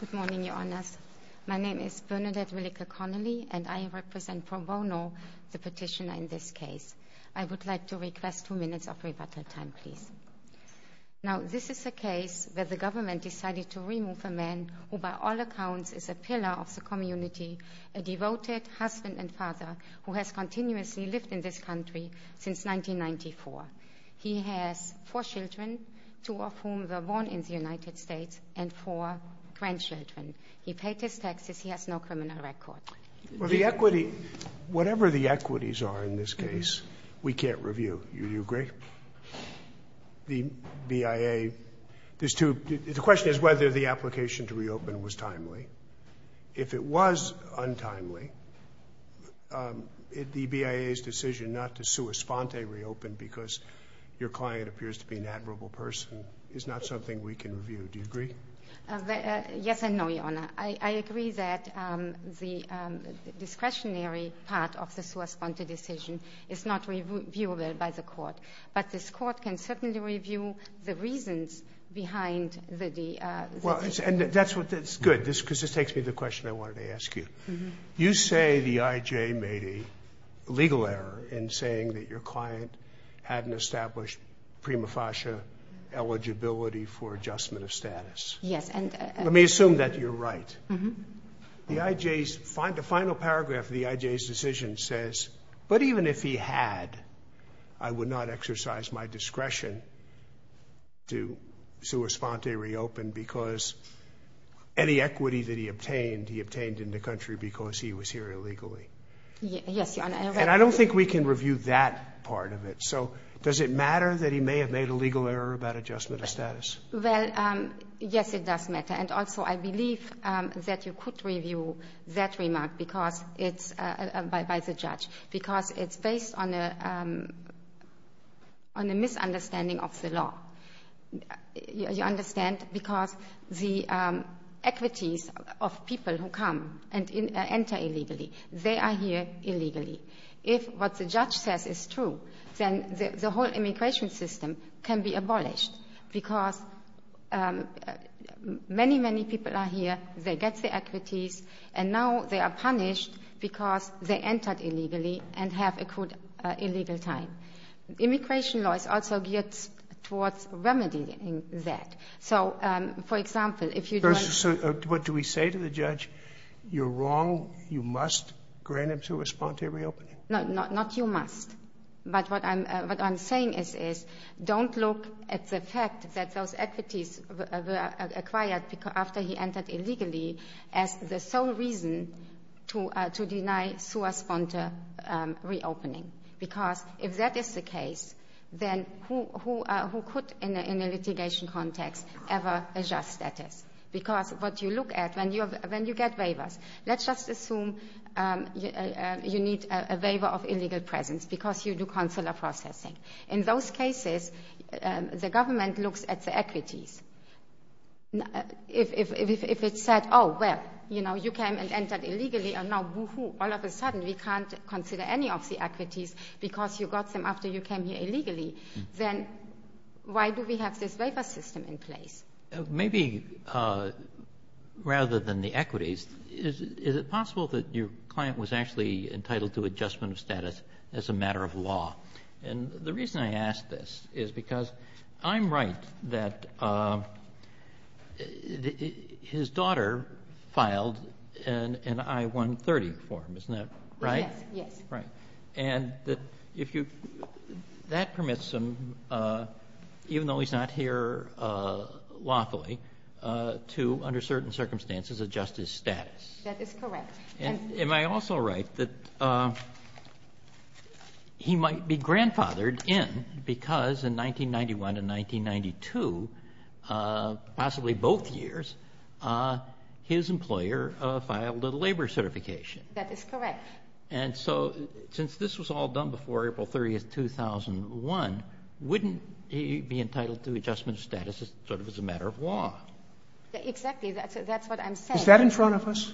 Good morning, Your Honours. My name is Bernadette Willeke Connolly, and I represent Pro Bono, the petitioner in this case. I would like to request two minutes of rebuttal time, please. Now this is a case where the government decided to remove a man who by all accounts is a pillar of the community, a devoted husband and father who has continuously lived in this country since 1994. He has four children, two of whom were born in the United States, and four grandchildren. He paid his taxes. He has no criminal record. Well, the equity, whatever the equities are in this case, we can't review. Do you agree? The BIA, there's two, the question is whether the application to reopen was timely. If it was untimely, the BIA's decision not to sua sponte reopen because your client appears to be an admirable person is not something we can review. Do you agree? Yes and no, Your Honour. I agree that the discretionary part of the sua sponte decision is not reviewable by the court, but this court can certainly review the reasons behind the decision. Well, that's good because this takes me to the question I wanted to ask you. You say the IJ made a legal error in saying that your client hadn't established prima facie eligibility for adjustment of status. Yes. Let me assume that you're right. The IJ's, the final paragraph of the IJ's decision says, but even if he had, I would not exercise my discretion to sua sponte reopen because any equity that he obtained, he obtained in the country because he was here illegally. Yes, Your Honour. And I don't think we can review that part of it. So does it matter that he may have made a legal error about adjustment of status? Well, yes, it does matter. And also, I believe that you could review that remark because it's, by the judge, because it's based on a misunderstanding of the law. You understand? Because the equities of people who come and enter illegally, they are here illegally. If what the judge says is true, then the whole immigration system can be abolished because many, many people are here. They get the equities, and now they are punished because they entered illegally and have a good illegal time. Immigration law is also geared towards remedying that. So, for example, if you don't ---- No, not you must. But what I'm saying is, don't look at the fact that those equities were acquired after he entered illegally as the sole reason to deny sua sponte reopening, because if that is the case, then who could, in a litigation context, ever adjust status? Because what you look at when you get waivers, let's just assume you need a waiver of illegal presence because you do consular processing. In those cases, the government looks at the equities. If it said, oh, well, you know, you came and entered illegally, and now, boo-hoo, all of a sudden we can't consider any of the equities because you got them after you came here illegally, then why do we have this waiver system in place? Maybe rather than the equities, is it possible that your client was actually entitled to adjustment of status as a matter of law? And the reason I ask this is because I'm right that his daughter filed an I-130 for him. Isn't that right? Yes, yes. Right. And that permits him, even though he's not here lawfully, to, under certain circumstances, adjust his status. That is correct. Am I also right that he might be grandfathered in because in 1991 and 1992, possibly both years, his employer filed a labor certification? That is correct. And so since this was all done before April 30th, 2001, wouldn't he be entitled to adjustment of status sort of as a matter of law? Exactly. That's what I'm saying. Is that in front of us?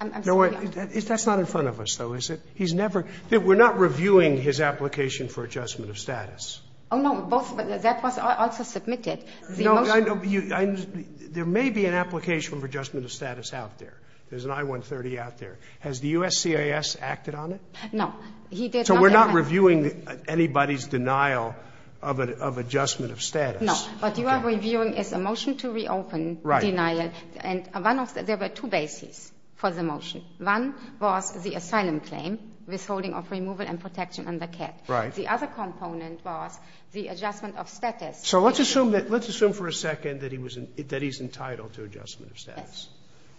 I'm sorry. That's not in front of us, though, is it? He's never – we're not reviewing his application for adjustment of status. Oh, no. That was also submitted. There may be an application for adjustment of status out there. There's an I-130 out there. Has the USCIS acted on it? No. He did not. So we're not reviewing anybody's denial of adjustment of status. No. What you are reviewing is a motion to reopen denial. Right. And one of the – there were two bases for the motion. One was the asylum claim, withholding of removal and protection under CAT. Right. The other component was the adjustment of status. So let's assume that – let's assume for a second that he was – that he's entitled to adjustment of status.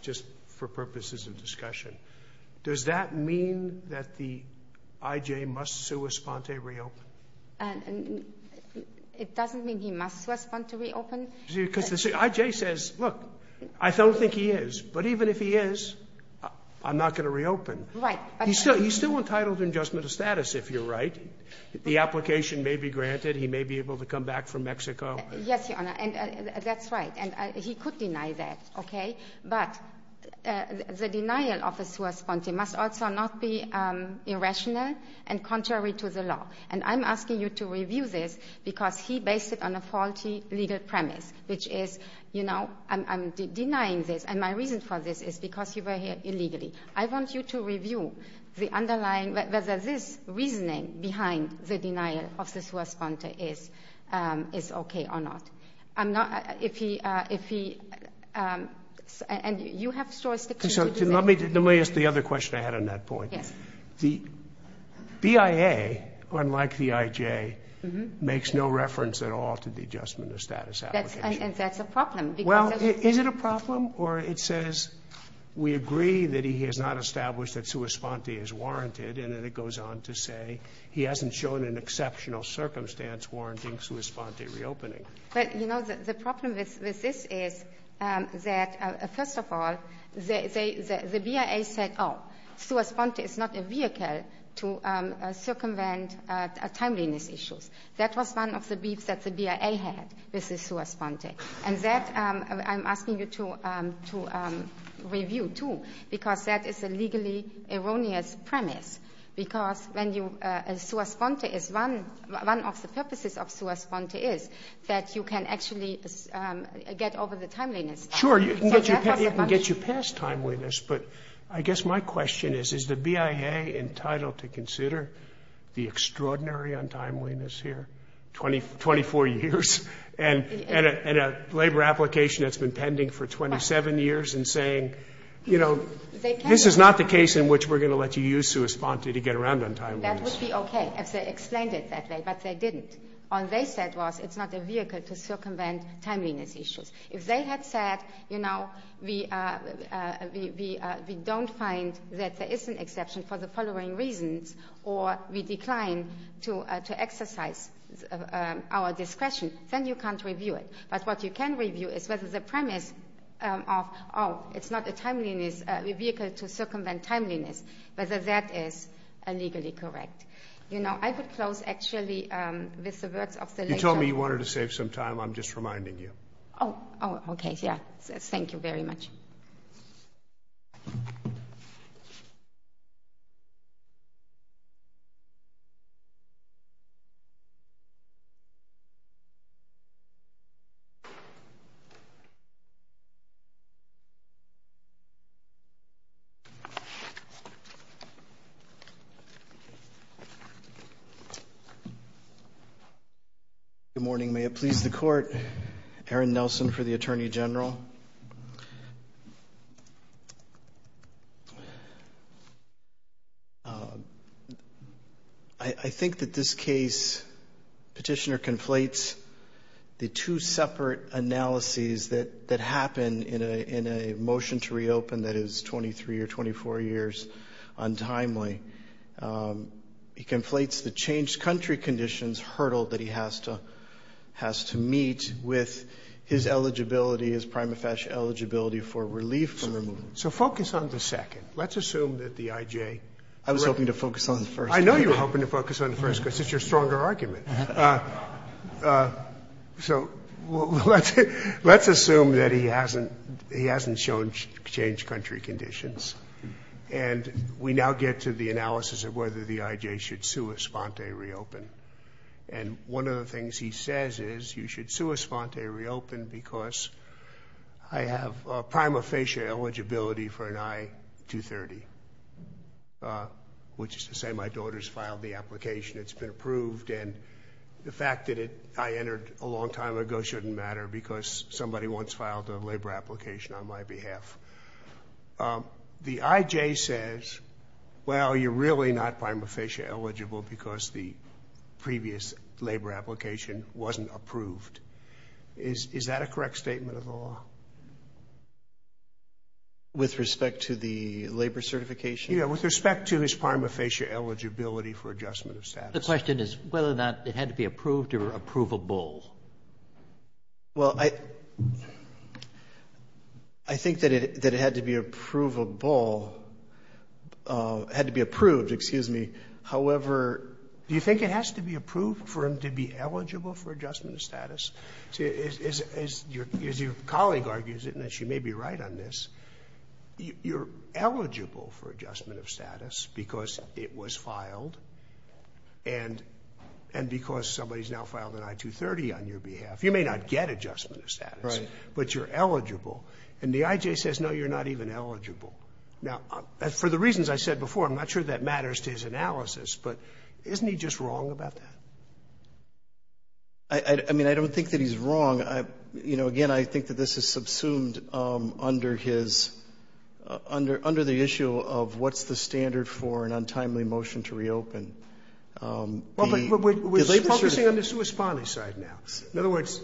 Just for purposes of discussion, does that mean that the IJ must sua sponte reopen? It doesn't mean he must sua sponte reopen. Because the IJ says, look, I don't think he is, but even if he is, I'm not going to reopen. Right. He's still entitled to adjustment of status, if you're right. The application may be granted. He may be able to come back from Mexico. Yes, Your Honor. And that's right. And he could deny that, okay? But the denial of the sua sponte must also not be irrational and contrary to the law. And I'm asking you to review this because he based it on a faulty legal premise, which is, you know, I'm denying this, and my reason for this is because you were here illegally. I want you to review the underlying – whether this reasoning behind the denial of the sua sponte is okay or not. I'm not – if he – and you have jurisdiction to do that. Let me ask the other question I had on that point. Yes. The BIA, unlike the IJ, makes no reference at all to the adjustment of status application. And that's a problem. Well, is it a problem? Or it says we agree that he has not established that sua sponte is warranted, and then it goes on to say he hasn't shown an exceptional circumstance warranting sua sponte reopening. But, you know, the problem with this is that, first of all, the BIA said, oh, sua sponte is not a vehicle to circumvent timeliness issues. That was one of the beefs that the BIA had with the sua sponte. And that I'm asking you to review, too, because that is a legally erroneous premise. Because when you – sua sponte is one – one of the purposes of sua sponte is that you can actually get over the timeliness. Sure, you can get your past timeliness, but I guess my question is, is the BIA entitled to consider the extraordinary untimeliness here, 24 years? And a labor application that's been pending for 27 years and saying, you know, this is not the case in which we're going to let you use sua sponte to get around untimeliness. That would be okay if they explained it that way, but they didn't. All they said was it's not a vehicle to circumvent timeliness issues. If they had said, you know, we don't find that there is an exception for the following reasons or we decline to exercise our discretion, then you can't review it. But what you can review is whether the premise of, oh, it's not a timeliness – a vehicle to circumvent timeliness, whether that is legally correct. You know, I would close actually with the words of the – You told me you wanted to save some time. I'm just reminding you. Oh, okay. Yeah. Thank you very much. Good morning. May it please the Court, Aaron Nelson for the Attorney General. I think that this case, Petitioner conflates the two separate analyses that happen in a motion to reopen that is 23 or 24 years untimely. He conflates the changed country conditions hurdle that he has to meet with his eligibility as prima facie eligibility for relief from removal. So focus on the second. Let's assume that the I.J. I was hoping to focus on the first. I know you were hoping to focus on the first because it's your stronger argument. So let's assume that he hasn't shown changed country conditions. And we now get to the analysis of whether the I.J. should sue a sponte reopen. And one of the things he says is you should sue a sponte reopen because I have prima facie eligibility for an I-230, which is to say my daughter's filed the application, it's been approved, and the fact that I entered a long time ago shouldn't matter because somebody once filed a labor application on my behalf. The I.J. says, well, you're really not prima facie eligible because the previous labor application wasn't approved. Is that a correct statement of the law? With respect to the labor certification? Yeah, with respect to his prima facie eligibility for adjustment of status. The question is whether or not it had to be approved or approvable. Well, I think that it had to be approvable, had to be approved, excuse me. However, do you think it has to be approved for him to be eligible for adjustment of status? As your colleague argues it, and she may be right on this, you're eligible for adjustment of status because it was filed and because somebody's now filed an I-230 on your behalf. You may not get adjustment of status, but you're eligible. And the I.J. says, no, you're not even eligible. Now, for the reasons I said before, I'm not sure that matters to his analysis, but isn't he just wrong about that? I mean, I don't think that he's wrong. You know, again, I think that this is subsumed under his, under the issue of what's the standard for an untimely motion to reopen. Well, but we're focusing on the Swiss bonnie side now. In other words,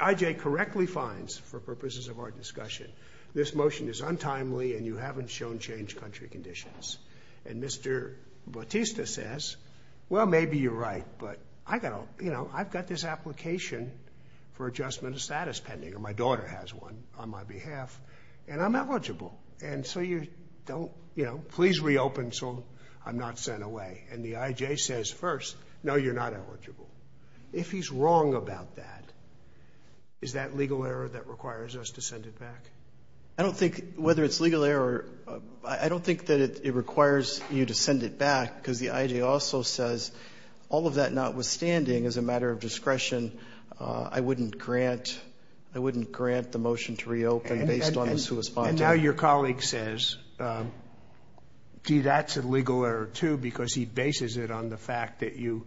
I.J. correctly finds, for purposes of our discussion, this motion is untimely and you haven't shown change country conditions. And Mr. Bautista says, well, maybe you're right, but I've got this application for adjustment of status pending, or my daughter has one on my behalf, and I'm eligible. And so you don't, you know, please reopen so I'm not sent away. And the I.J. says first, no, you're not eligible. If he's wrong about that, is that legal error that requires us to send it back? I don't think whether it's legal error, I don't think that it requires you to send it back because the I.J. also says all of that notwithstanding is a matter of discretion. I wouldn't grant, I wouldn't grant the motion to reopen based on the Swiss bonnie. And now your colleague says, gee, that's a legal error, too, because he bases it on the fact that you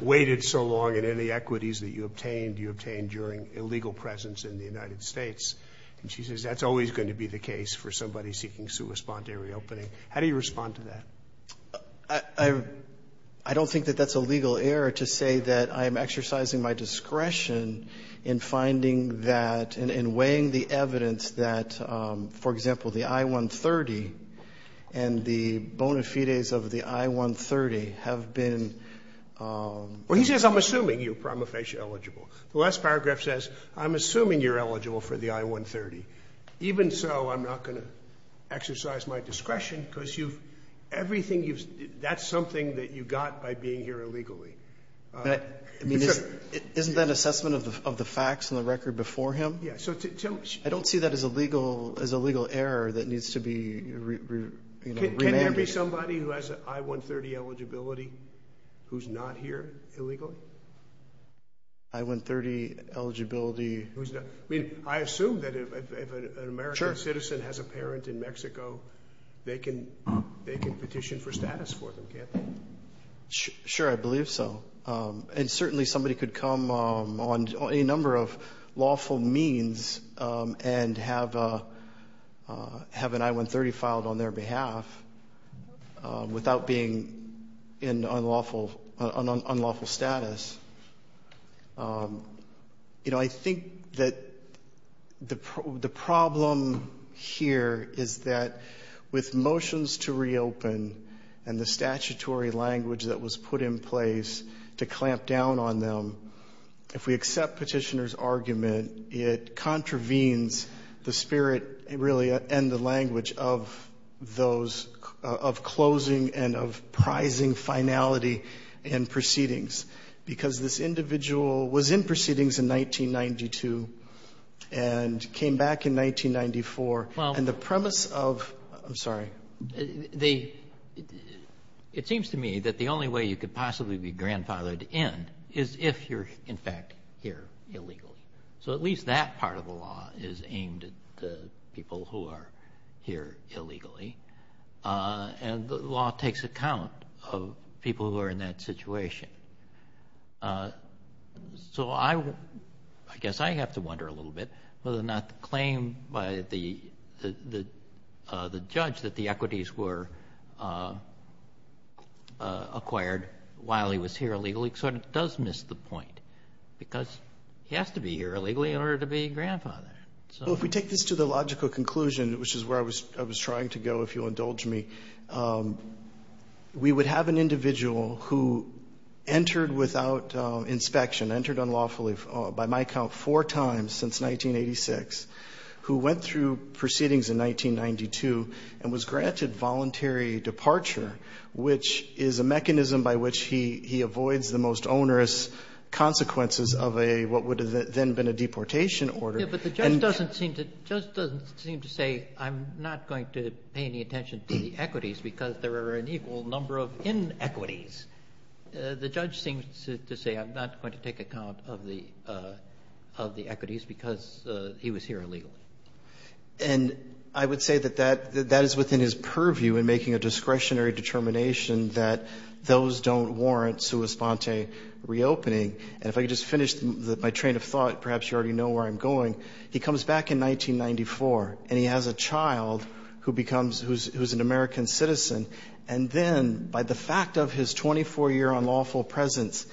waited so long in any equities that you obtained, you obtained during illegal presence in the United States. And she says that's always going to be the case for somebody seeking Swiss bonnie reopening. How do you respond to that? I don't think that that's a legal error to say that I'm exercising my discretion in finding that and weighing the evidence that, for example, the I-130 and the bona fides of the I-130 have been. Well, he says I'm assuming you're prima facie eligible. The last paragraph says I'm assuming you're eligible for the I-130. Even so, I'm not going to exercise my discretion because you've, everything you've, that's something that you got by being here illegally. I mean, isn't that assessment of the facts and the record before him? Yeah. I don't see that as a legal error that needs to be, you know, remanded. Can there be somebody who has an I-130 eligibility who's not here illegally? I-130 eligibility. I mean, I assume that if an American citizen has a parent in Mexico, they can petition for status for them, can't they? Sure, I believe so. And certainly somebody could come on any number of lawful means and have an I-130 filed on their behalf without being in unlawful status. You know, I think that the problem here is that with motions to reopen and the statutory language that was put in place to clamp down on them, if we accept petitioner's argument, it contravenes the spirit, really, and the language of those, of closing and of prizing finality in proceedings. Because this individual was in proceedings in 1992 and came back in 1994. And the premise of, I'm sorry. It seems to me that the only way you could possibly be grandfathered in is if you're, in fact, here illegally. So at least that part of the law is aimed at the people who are here illegally. And the law takes account of people who are in that situation. So I guess I have to wonder a little bit whether or not the claim by the judge that the equities were acquired while he was here illegally sort of does miss the point, because he has to be here illegally in order to be grandfathered. So if we take this to the logical conclusion, which is where I was trying to go, if you'll indulge me, we would have an individual who entered without inspection, entered unlawfully by my count four times since 1986, who went through proceedings in 1992 and was granted voluntary departure, which is a mechanism by which he avoids the most onerous consequences of a what would have then been a deportation order. And the judge doesn't seem to say I'm not going to pay any attention to the equities because there are an equal number of inequities. The judge seems to say I'm not going to take account of the equities because he was here illegally. And I would say that that is within his purview in making a discretionary determination that those don't warrant sua sponte reopening. And if I could just finish my train of thought, perhaps you already know where I'm going. He comes back in 1994, and he has a child who becomes who's an American citizen. And then by the fact of his 24-year unlawful presence,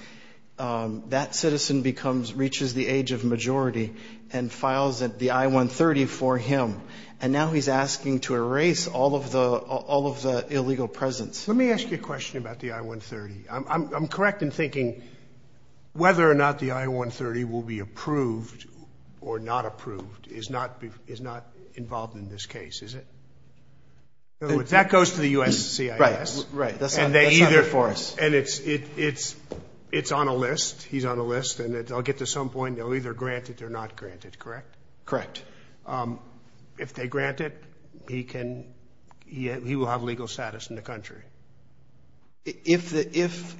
that citizen becomes reaches the age of majority and files the I-130 for him. And now he's asking to erase all of the illegal presence. Let me ask you a question about the I-130. I'm correct in thinking whether or not the I-130 will be approved or not approved is not involved in this case, is it? That goes to the U.S. CIS. Right, right. And they either for us. And it's on a list. He's on a list. And I'll get to some point, they'll either grant it or not grant it, correct? Correct. If they grant it, he can he will have legal status in the country. If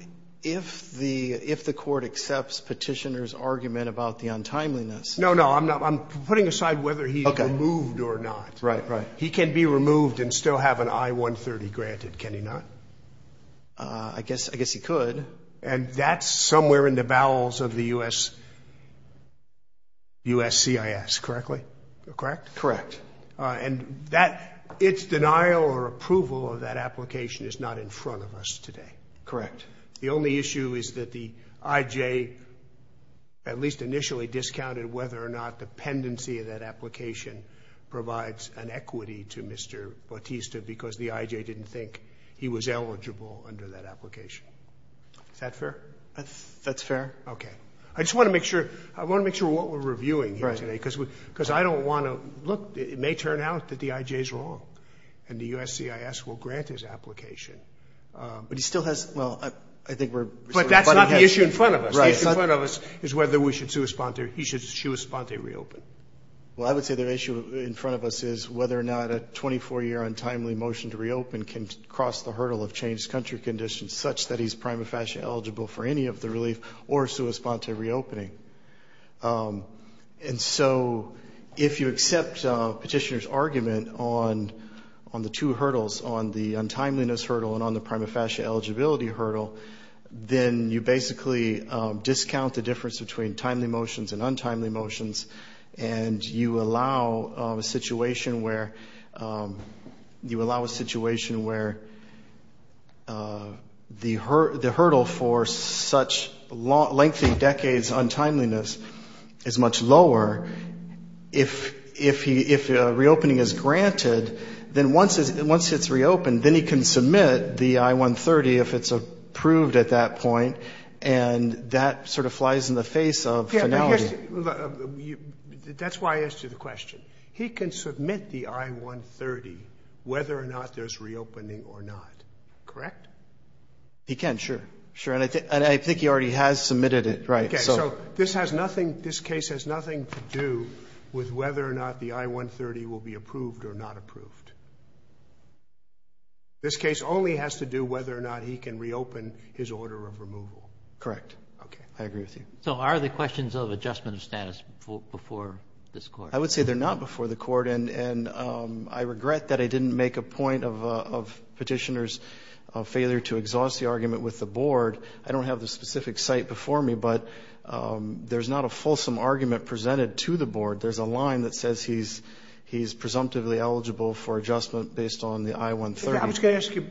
the court accepts Petitioner's argument about the untimeliness. No, no. I'm putting aside whether he's removed or not. Right, right. He can be removed and still have an I-130 granted, can he not? I guess he could. And that's somewhere in the bowels of the U.S. CIS, correctly? Correct. Correct. And its denial or approval of that application is not in front of us today. Correct. The only issue is that the IJ at least initially discounted whether or not the pendency of that application provides an equity to Mr. Bautista because the IJ didn't think he was eligible under that application. Is that fair? That's fair. Okay. I just want to make sure what we're reviewing here today because I don't want to look. It may turn out that the IJ is wrong and the U.S. CIS will grant his application. But he still has, well, I think we're sort of butting heads. But that's not the issue in front of us. Right. The issue in front of us is whether we should sui sponte. He should sui sponte reopen. Well, I would say the issue in front of us is whether or not a 24-year untimely motion to reopen can cross the hurdle of changed country conditions such that he's prima facie eligible for any of the relief or sui sponte reopening. And so if you accept Petitioner's argument on the two hurdles, on the untimeliness hurdle and on the prima facie eligibility hurdle, then you basically discount the difference between timely motions and untimely motions and you allow a situation where the hurdle for such lengthy decades untimeliness is much lower. If a reopening is granted, then once it's reopened, then he can submit the I-130 if it's approved at that point, and that sort of flies in the face of finality. That's why I asked you the question. He can submit the I-130 whether or not there's reopening or not, correct? He can, sure, sure. And I think he already has submitted it. Right. Okay. So this has nothing, this case has nothing to do with whether or not the I-130 will be approved or not approved. This case only has to do whether or not he can reopen his order of removal. Correct. Okay. I agree with you. So are the questions of adjustment of status before this Court? I would say they're not before the Court, and I regret that I didn't make a point of Petitioner's failure to exhaust the argument with the board. I don't have the specific site before me, but there's not a fulsome argument presented to the board. There's a line that says he's presumptively eligible for adjustment based on the I-130. I was going to ask you,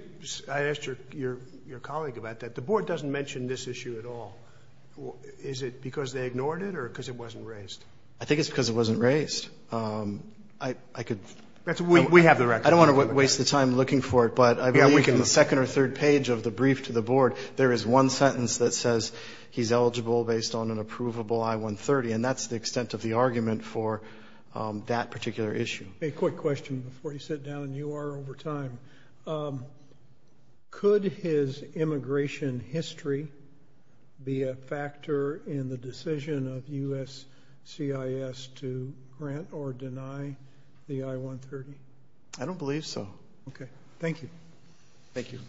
I asked your colleague about that. The board doesn't mention this issue at all. Is it because they ignored it or because it wasn't raised? I think it's because it wasn't raised. I could. We have the record. I don't want to waste the time looking for it, but I believe in the second or third page of the brief to the board, there is one sentence that says he's eligible based on an approvable I-130, and that's the extent of the argument for that particular issue. A quick question before you sit down, and you are over time. Could his immigration history be a factor in the decision of USCIS to grant or deny the I-130? I don't believe so. Okay. Thank you. Thank you.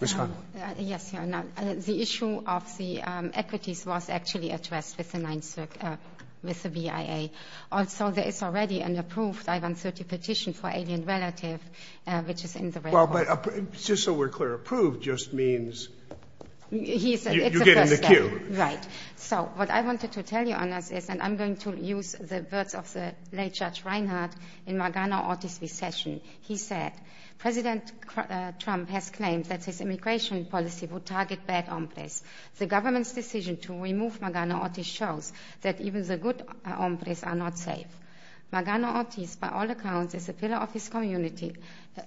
Ms. Hahn. Yes, Your Honor. The issue of the equities was actually addressed with the VIA. Also, there is already an approved I-130 petition for alien relative, which is in the record. Well, but just so we're clear, approved just means you get in the queue. Right. So what I wanted to tell you on this is, and I'm going to use the words of the late Judge Reinhardt in Margano v. Session. He said, President Trump has claimed that his immigration policy would target bad hombres. The government's decision to remove Margano Ortiz shows that even the good hombres are not safe. Margano Ortiz, by all accounts, is a pillar of his community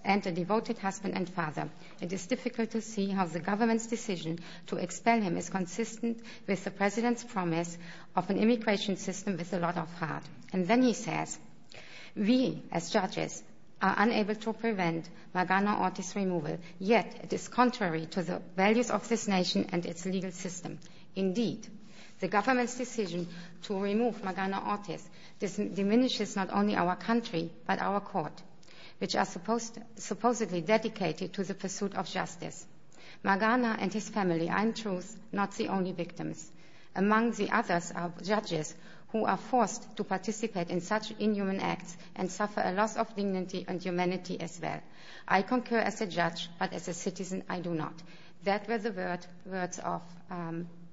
and a devoted husband and father. It is difficult to see how the government's decision to expel him is consistent with the president's promise of an immigration system with a lot of heart. And then he says, we, as judges, are unable to prevent Margano Ortiz's removal, yet it is contrary to the values of this nation and its legal system. Indeed, the government's decision to remove Margano Ortiz diminishes not only our country, but our court, which are supposedly dedicated to the pursuit of justice. Margano and his family are, in truth, not the only victims. Among the others are judges who are forced to participate in such inhuman acts and suffer a loss of dignity and humanity as well. I concur as a judge, but as a citizen, I do not. That were the words of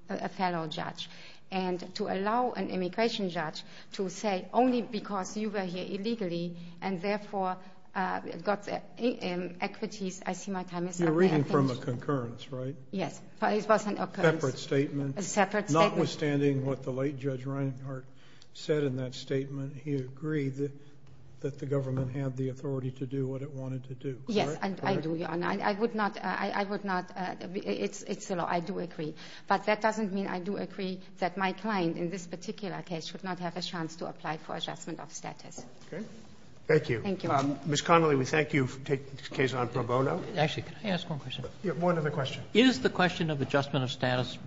a fellow judge. And to allow an immigration judge to say, only because you were here illegally and therefore got equities, I see my time is up. You're reading from a concurrence, right? Yes. A separate statement. A separate statement. Notwithstanding what the late Judge Reinhart said in that statement, he agreed that the government had the authority to do what it wanted to do, correct? Yes, I do, Your Honor. I would not – I would not – it's the law. I do agree. But that doesn't mean I do agree that my client in this particular case should not have a chance to apply for adjustment of status. Okay. Thank you. Thank you. Ms. Connolly, we thank you for taking this case on pro bono. Actually, can I ask one question? One other question. Is the question of adjustment of status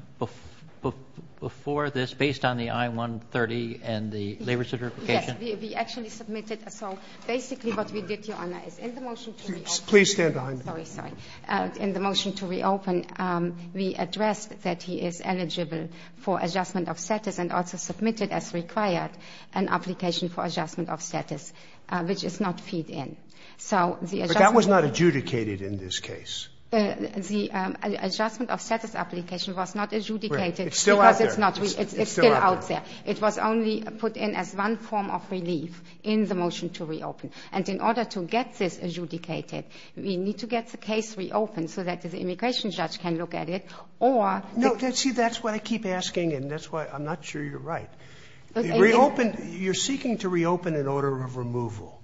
before this based on the I-130 and the labor certification? Yes. We actually submitted. So basically what we did, Your Honor, is in the motion to reopen. Please stand behind me. Sorry. Sorry. In the motion to reopen, we addressed that he is eligible for adjustment of status and also submitted as required an application for adjustment of status, which is not feed-in. So the adjustment of status. But that was not adjudicated in this case. The adjustment of status application was not adjudicated. It's still out there. It's still out there. It was only put in as one form of relief in the motion to reopen. And in order to get this adjudicated, we need to get the case reopened so that the immigration judge can look at it or the ---- No. See, that's what I keep asking, and that's why I'm not sure you're right. Reopen. You're seeking to reopen in order of removal.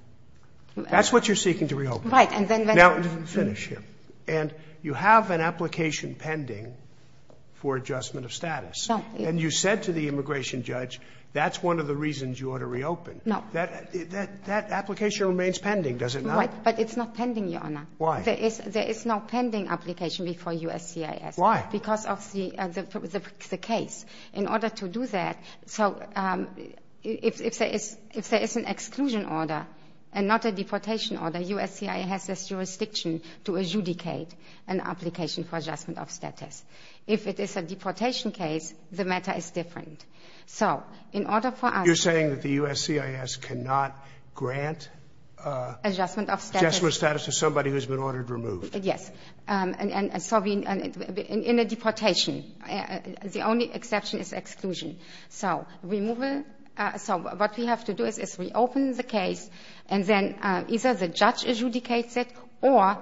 That's what you're seeking to reopen. Right. And then ---- Now, finish here. And you have an application pending for adjustment of status. No. And you said to the immigration judge that's one of the reasons you ought to reopen. No. That application remains pending, does it not? Right. But it's not pending, Your Honor. Why? There is no pending application before USCIS. Why? Because of the case. In order to do that, so if there is an exclusion order and not a deportation order, USCIS has a jurisdiction to adjudicate an application for adjustment of status. If it is a deportation case, the matter is different. So in order for us ---- You're saying that the USCIS cannot grant adjustment of status to somebody who's been ordered removed. Yes. And so in a deportation, the only exception is exclusion. So removal ---- So what we have to do is reopen the case, and then either the judge adjudicates it or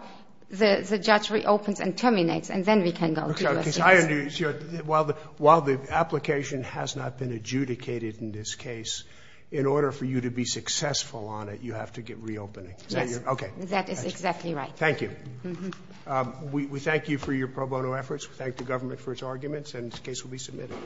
the judge reopens and terminates, and then we can go to USCIS. Okay. I understand. While the application has not been adjudicated in this case, in order for you to be successful on it, you have to get reopening. Yes. Okay. That is exactly right. Thank you. We thank you for your pro bono efforts. We thank the government for its arguments, and this case will be submitted.